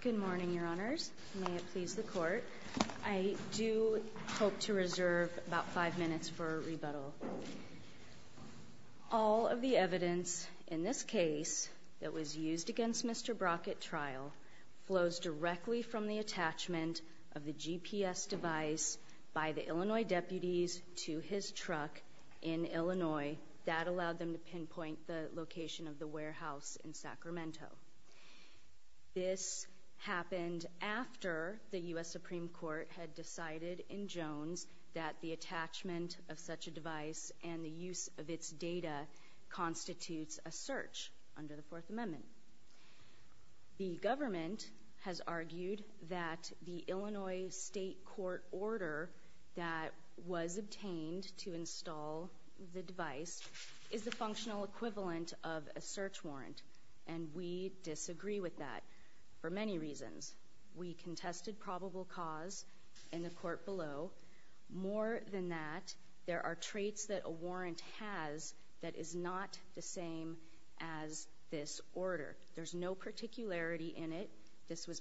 Good morning, your honors. May it please the court. I do hope to reserve about five minutes for a rebuttal. All of the evidence in this case that was used against Mr. Brock at trial flows directly from the attachment of the GPS device by the Illinois deputies to his truck in Illinois. That allowed them to pinpoint the location of the warehouse in Sacramento. This happened after the U.S. Supreme Court had decided in Jones that the attachment of such a device and the use of its data constitutes a search under the Fourth Amendment. The government has argued that the Illinois state court order that was obtained to install the device is the functional equivalent of a search warrant, and we disagree with that for many reasons. We contested probable cause in the court below. More than that, there are traits that a warrant has that is not the same as this order. There's no particularity in it. This was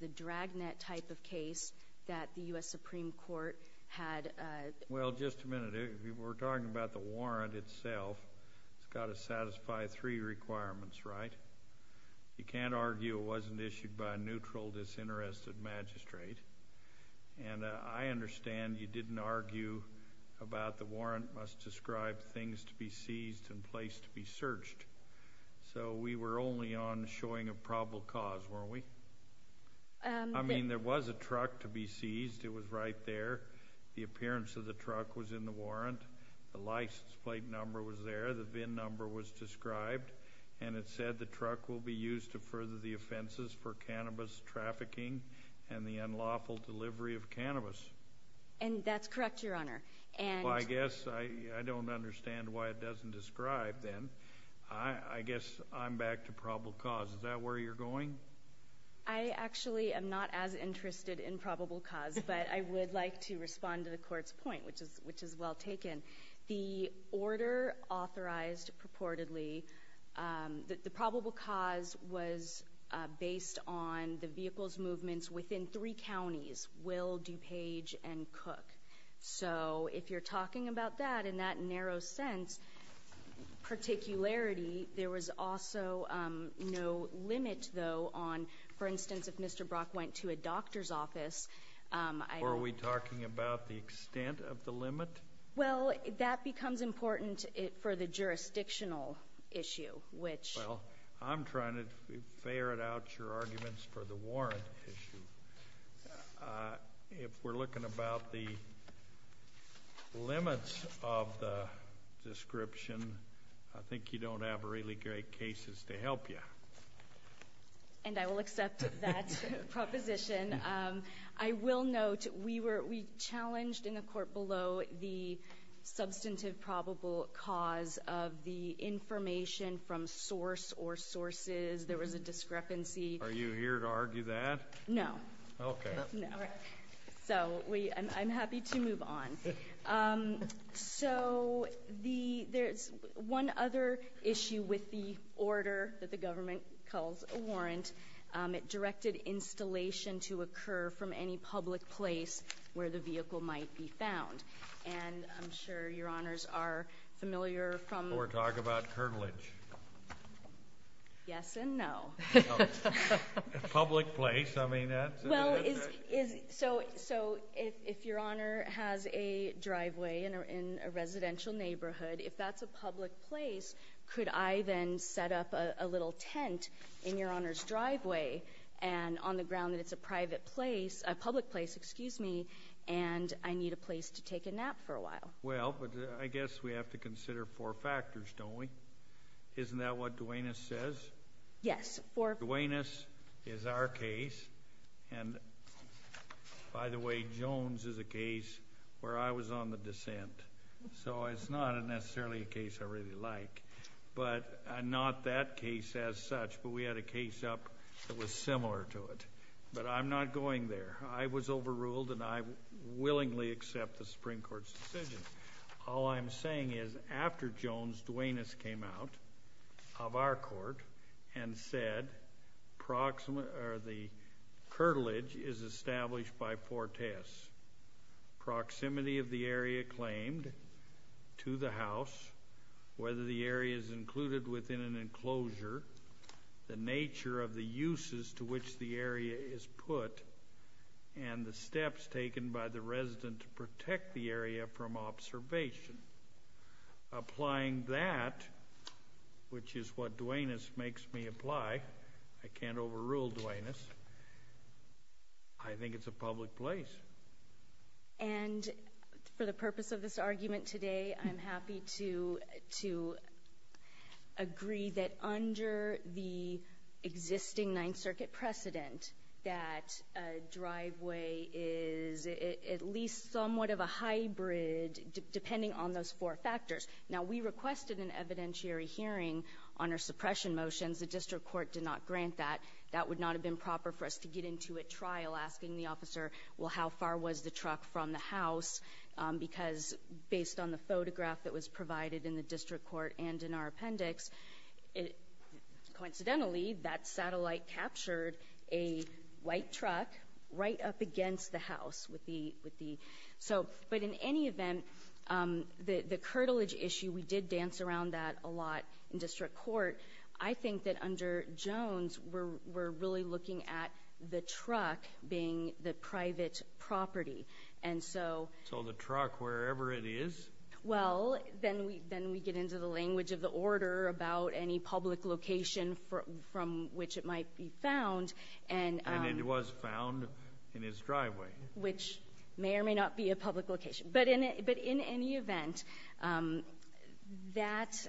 the dragnet type of case that the U.S. Supreme Court had— Well, just a minute. We're talking about the warrant itself. It's got to satisfy three requirements, right? You can't argue it wasn't issued by a neutral, disinterested magistrate. And I understand you didn't argue about the warrant must describe things to be seized and place to be searched. So we were only on showing a probable cause, weren't we? I mean, there was a truck to be seized. It was right there. The appearance of the truck was in the warrant. The license plate number was there. The VIN number was described. And it said the truck will be used to further the offenses for cannabis trafficking and the unlawful delivery of cannabis. And that's correct, Your Honor. Well, I guess I don't understand why it doesn't describe then. I guess I'm back to probable cause. Is that where you're going? I actually am not as interested in probable cause, but I would like to respond to the Court's point, which is well taken. The order authorized purportedly, the probable cause was based on the vehicle's movements within three counties, Will, DuPage, and Cook. So if you're talking about that in that narrow sense, particularity, there was also no limit, though, on, for instance, if Mr. Brock went to a doctor's office. Or are we talking about the extent of the limit? Well, that becomes important for the jurisdictional issue, which — Well, I'm trying to ferret out your arguments for the warrant issue. If we're looking about the limits of the description, I think you don't have really great cases to help you. And I will accept that proposition. I will note we challenged in the court below the substantive probable cause of the information from source or sources. There was a discrepancy. Are you here to argue that? No. Okay. No. So I'm happy to move on. Yes, and no. Public place? I mean, that's — Well, is — so if Your Honor has a driveway in a residential neighborhood, if that's a public place, could I then set up a little tent in Your Honor's driveway? And on the ground that it's a private place — a public place, excuse me, and I need a place to take a nap for a while. Well, but I guess we have to consider four factors, don't we? Isn't that what Duenas says? Yes. Duenas is our case. And, by the way, Jones is a case where I was on the dissent. So it's not necessarily a case I really like. But not that case as such, but we had a case up that was similar to it. But I'm not going there. I was overruled, and I willingly accept the Supreme Court's decision. All I'm saying is after Jones, Duenas came out of our court and said the curtilage is established by Fortes. Proximity of the area claimed to the house, whether the area is included within an enclosure, the nature of the uses to which the area is put, and the steps taken by the resident to protect the area from observation. Applying that, which is what Duenas makes me apply. I can't overrule Duenas. I think it's a public place. And for the purpose of this argument today, I'm happy to agree that under the existing Ninth Circuit precedent, that driveway is at least somewhat of a hybrid, depending on those four factors. Now, we requested an evidentiary hearing on our suppression motions. The district court did not grant that. That would not have been proper for us to get into a trial asking the officer, well, how far was the truck from the house? Because based on the photograph that was provided in the district court and in our appendix, coincidentally, that satellite captured a white truck right up against the house with the ‑‑ So, but in any event, the curtilage issue, we did dance around that a lot in district court. I think that under Jones, we're really looking at the truck being the private property. And so ‑‑ So the truck, wherever it is? Well, then we get into the language of the order about any public location from which it might be found. And it was found in his driveway. Which may or may not be a public location. But in any event, that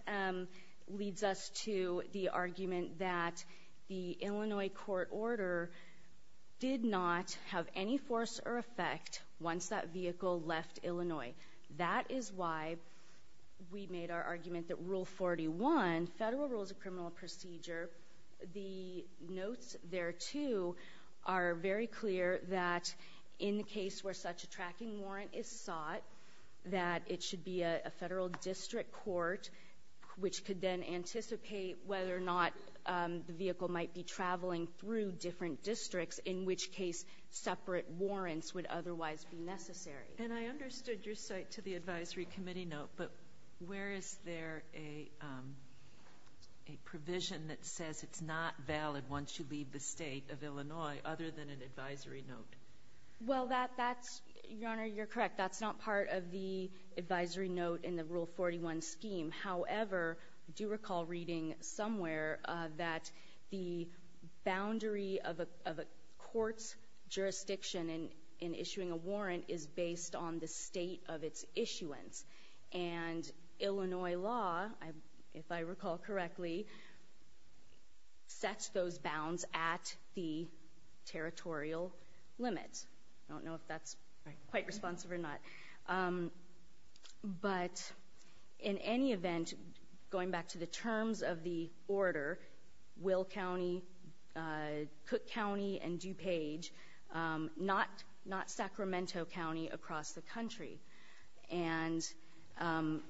leads us to the argument that the Illinois court order did not have any force or effect once that vehicle left Illinois. That is why we made our argument that Rule 41, Federal Rules of Criminal Procedure, the notes there, too, are very clear that in the case where such a tracking warrant is sought, that it should be a federal district court, which could then anticipate whether or not the vehicle might be traveling through different districts, in which case separate warrants would otherwise be necessary. And I understood your cite to the advisory committee note. But where is there a provision that says it's not valid once you leave the State of Illinois, other than an advisory note? Well, that's ‑‑ Your Honor, you're correct. That's not part of the advisory note in the Rule 41 scheme. However, I do recall reading somewhere that the boundary of a court's jurisdiction in issuing a warrant is based on the state of its issuance. And Illinois law, if I recall correctly, sets those bounds at the territorial limits. I don't know if that's quite responsive or not. But in any event, going back to the terms of the order, Will County, Cook County, and DuPage, not Sacramento County across the country. And I'm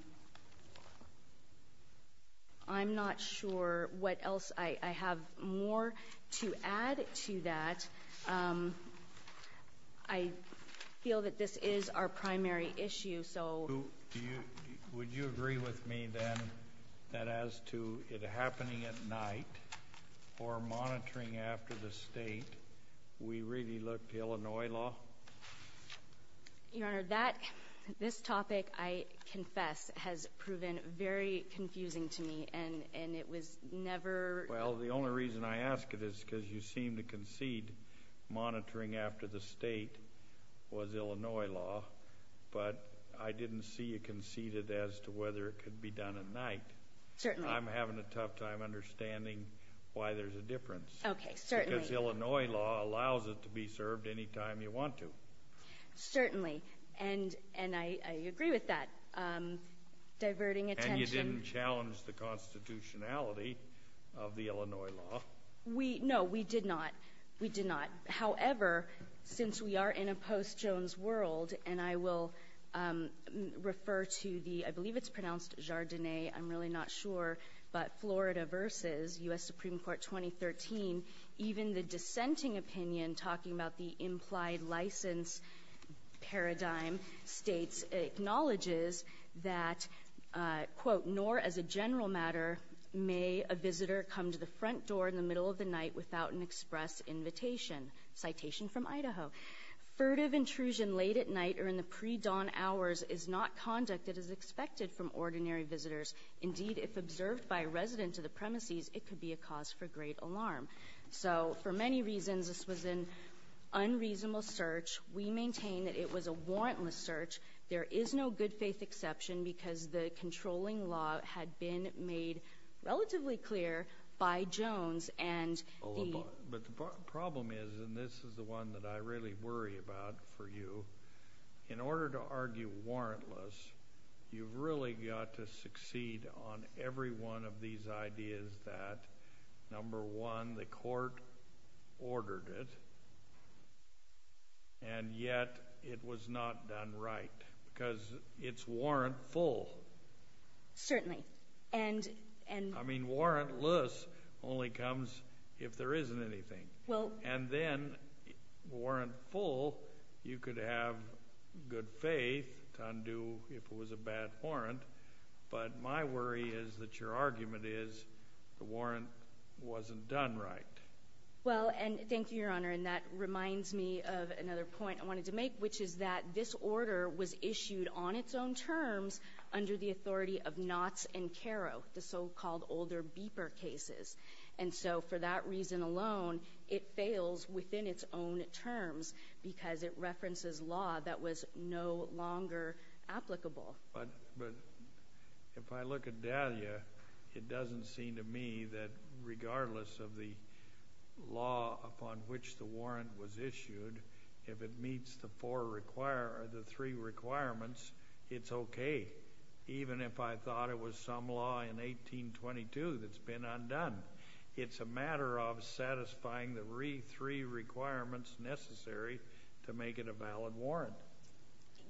not sure what else. I have more to add to that. I feel that this is our primary issue. Would you agree with me then that as to it happening at night or monitoring after the state, we really look to Illinois law? Your Honor, this topic, I confess, has proven very confusing to me. And it was never ‑‑ Well, the only reason I ask it is because you seem to concede monitoring after the state was Illinois law. But I didn't see you conceded as to whether it could be done at night. Certainly. I'm having a tough time understanding why there's a difference. Okay, certainly. Because Illinois law allows it to be served any time you want to. Certainly. And I agree with that, diverting attention. But you didn't challenge the constitutionality of the Illinois law. No, we did not. We did not. However, since we are in a post‑Jones world, and I will refer to the ‑‑ I believe it's pronounced Jardine. I'm really not sure. But Florida versus U.S. Supreme Court 2013, even the dissenting opinion talking about the implied license paradigm states, acknowledges that, quote, nor as a general matter may a visitor come to the front door in the middle of the night without an express invitation. Citation from Idaho. Furtive intrusion late at night or in the pre‑dawn hours is not conduct that is expected from ordinary visitors. Indeed, if observed by a resident to the premises, it could be a cause for great alarm. So for many reasons, this was an unreasonable search. We maintain that it was a warrantless search. There is no good faith exception because the controlling law had been made relatively clear by Jones and the ‑‑ But the problem is, and this is the one that I really worry about for you, in order to argue warrantless, you've really got to succeed on every one of these ideas that, number one, the court ordered it, and yet it was not done right. Because it's warrantful. Certainly. And ‑‑ I mean, warrantless only comes if there isn't anything. Well ‑‑ And then, warrantful, you could have good faith to undo if it was a bad warrant, but my worry is that your argument is the warrant wasn't done right. Well, and thank you, Your Honor, and that reminds me of another point I wanted to make, which is that this order was issued on its own terms under the authority of Knotts and Carrow, the so‑called older Beeper cases. And so for that reason alone, it fails within its own terms because it references law that was no longer applicable. But if I look at Dahlia, it doesn't seem to me that regardless of the law upon which the warrant was issued, if it meets the three requirements, it's okay, even if I thought it was some law in 1822 that's been undone. It's a matter of satisfying the three requirements necessary to make it a valid warrant.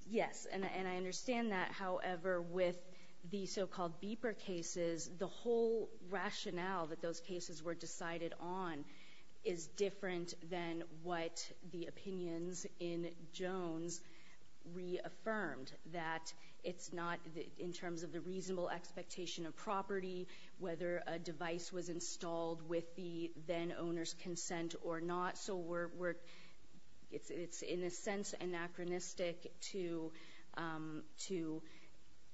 Yes, and I understand that. However, with the so‑called Beeper cases, the whole rationale that those cases were decided on is different than what the opinions in Jones reaffirmed, that it's not, in terms of the reasonable expectation of property, whether a device was installed with the then owner's consent or not. So it's, in a sense, anachronistic to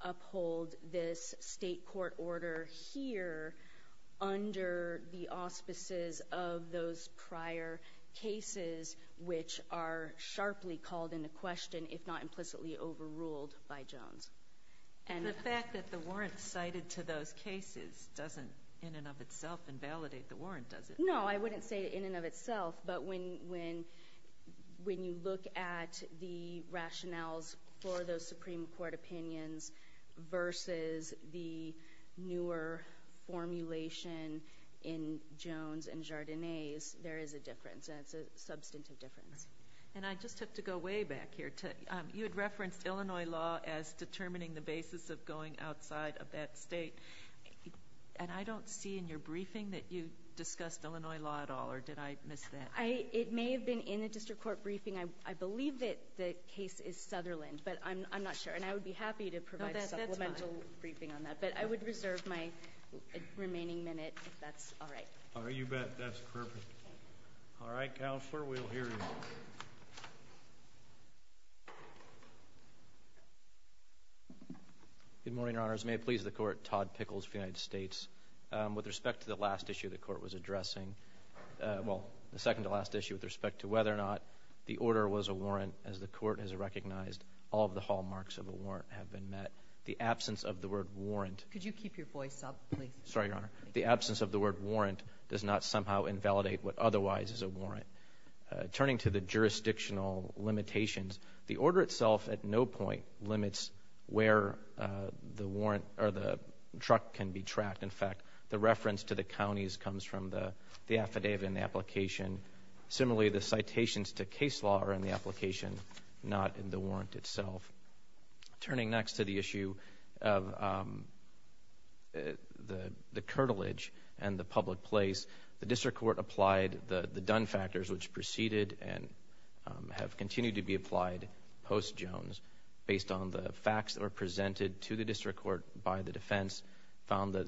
uphold this state court order here under the auspices of those prior cases, which are sharply called into question, if not implicitly overruled, by Jones. And the fact that the warrant cited to those cases doesn't in and of itself invalidate the warrant, does it? No, I wouldn't say in and of itself, but when you look at the rationales for those Supreme Court opinions versus the newer formulation in Jones and Jardinez, there is a difference, and it's a substantive difference. And I just have to go way back here. You had referenced Illinois law as determining the basis of going outside of that state. And I don't see in your briefing that you discussed Illinois law at all, or did I miss that? It may have been in the district court briefing. I believe that the case is Sutherland, but I'm not sure. And I would be happy to provide a supplemental briefing on that. But I would reserve my remaining minute if that's all right. All right, you bet. That's perfect. All right, Counselor, we'll hear you. Good morning, Your Honors. May it please the Court, Todd Pickles for the United States. With respect to the last issue the Court was addressing, well, the second to last issue with respect to whether or not the order was a warrant, as the Court has recognized all of the hallmarks of a warrant have been met, the absence of the word warrant. Could you keep your voice up, please? Sorry, Your Honor. The absence of the word warrant does not somehow invalidate what otherwise is a warrant. Turning to the jurisdictional limitations, the order itself at no point limits where the truck can be tracked. In fact, the reference to the counties comes from the affidavit in the application. Similarly, the citations to case law are in the application, not in the warrant itself. Turning next to the issue of the curtilage and the public place, the district court applied the done factors which proceeded and have continued to be applied post-Jones based on the facts that are presented to the district court by the defense, found that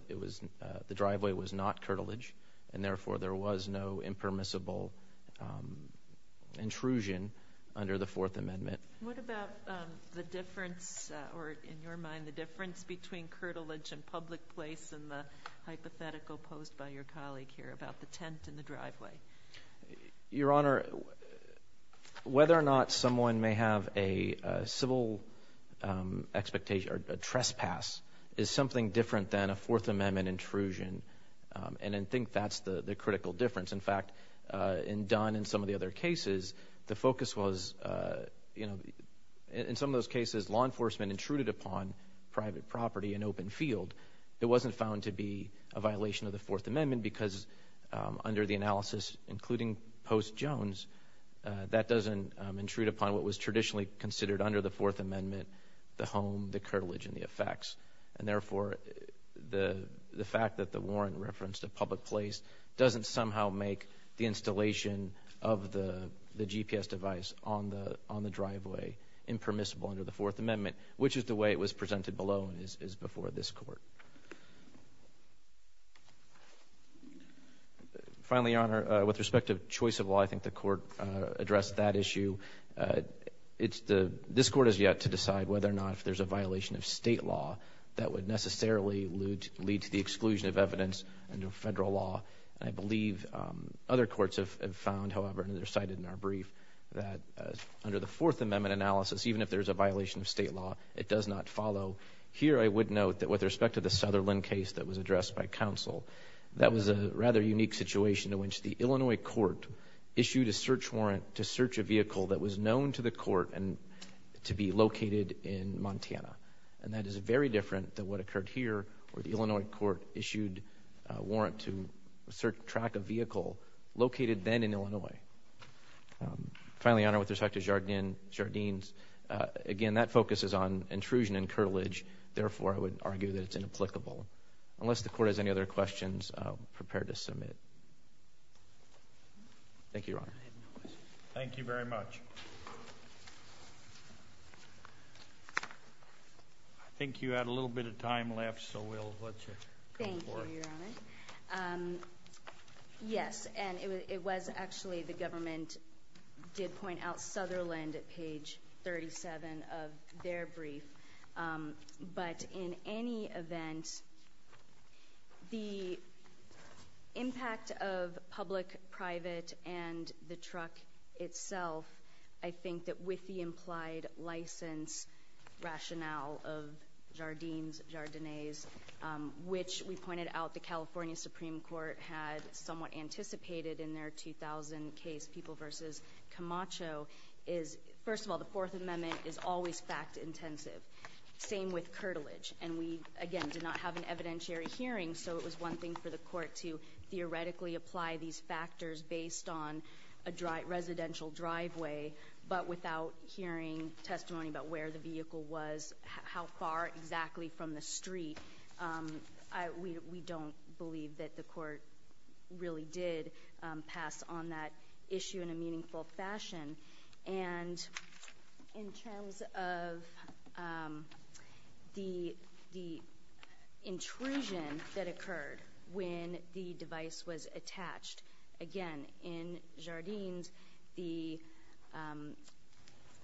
the driveway was not curtilage, and therefore there was no impermissible intrusion under the Fourth Amendment. What about the difference, or in your mind, the difference between curtilage and public place in the hypothetical posed by your colleague here about the tent in the driveway? Your Honor, whether or not someone may have a civil expectation or a trespass is something different than a Fourth Amendment intrusion, and I think that's the critical difference. In fact, in done in some of the other cases, the focus was, you know, in some of those cases law enforcement intruded upon private property and open field. It wasn't found to be a violation of the Fourth Amendment because under the analysis including post-Jones, that doesn't intrude upon what was traditionally considered under the Fourth Amendment, the home, the curtilage, and the effects. And therefore, the fact that the warrant referenced a public place doesn't somehow make the installation of the GPS device on the driveway impermissible under the Fourth Amendment, which is the way it was presented below and is before this Court. Finally, Your Honor, with respect to choice of law, I think the Court addressed that issue. This Court has yet to decide whether or not if there's a violation of state law that would necessarily lead to the exclusion of evidence under federal law. I believe other courts have found, however, and they're cited in our brief, that under the Fourth Amendment analysis, even if there's a violation of state law, it does not follow. Here I would note that with respect to the Sutherland case that was addressed by counsel, that was a rather unique situation in which the Illinois court issued a search warrant to search a vehicle that was known to the court to be located in Montana. And that is very different than what occurred here, where the Illinois court issued a warrant to track a vehicle located then in Illinois. Finally, Your Honor, with respect to Jardines, again, that focuses on intrusion and curtilage. Therefore, I would argue that it's inapplicable. Unless the Court has any other questions, I'm prepared to submit. Thank you, Your Honor. Thank you very much. I think you had a little bit of time left, so we'll let you go for it. Thank you, Your Honor. Yes, and it was actually the government did point out Sutherland at page 37 of their brief. But in any event, the impact of public-private and the truck itself, I think that with the implied license rationale of Jardines, Jardines, which we pointed out the California Supreme Court had somewhat anticipated in their 2000 case, People v. Camacho, is, first of all, the Fourth Amendment is always fact-intensive. Same with curtilage. And we, again, did not have an evidentiary hearing, so it was one thing for the court to theoretically apply these factors based on a residential driveway, but without hearing testimony about where the vehicle was, how far exactly from the street. We don't believe that the court really did pass on that issue in a meaningful fashion. And in terms of the intrusion that occurred when the device was attached, again, in Jardines, the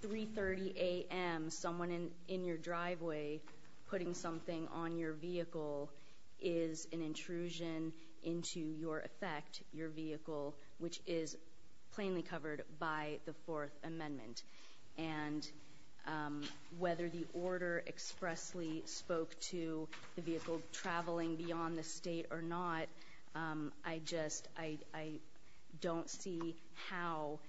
3.30 a.m. someone in your driveway putting something on your vehicle is an intrusion into your effect, your vehicle, which is plainly covered by the Fourth Amendment. And whether the order expressly spoke to the vehicle traveling beyond the state or not, I just don't see how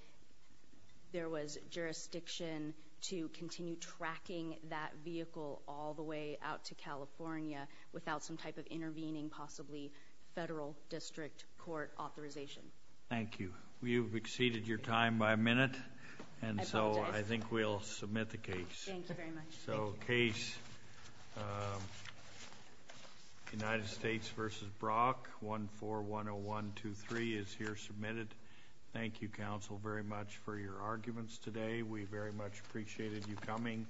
there was jurisdiction to continue tracking that vehicle all the way out to California without some type of intervening, possibly, federal district court authorization. Thank you. You've exceeded your time by a minute, and so I think we'll submit the case. Thank you very much. So case United States v. Brock, 1410123, is here submitted. Thank you, counsel, very much for your arguments today. We very much appreciated you coming.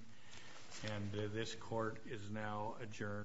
And this court is now adjourned. Thank you.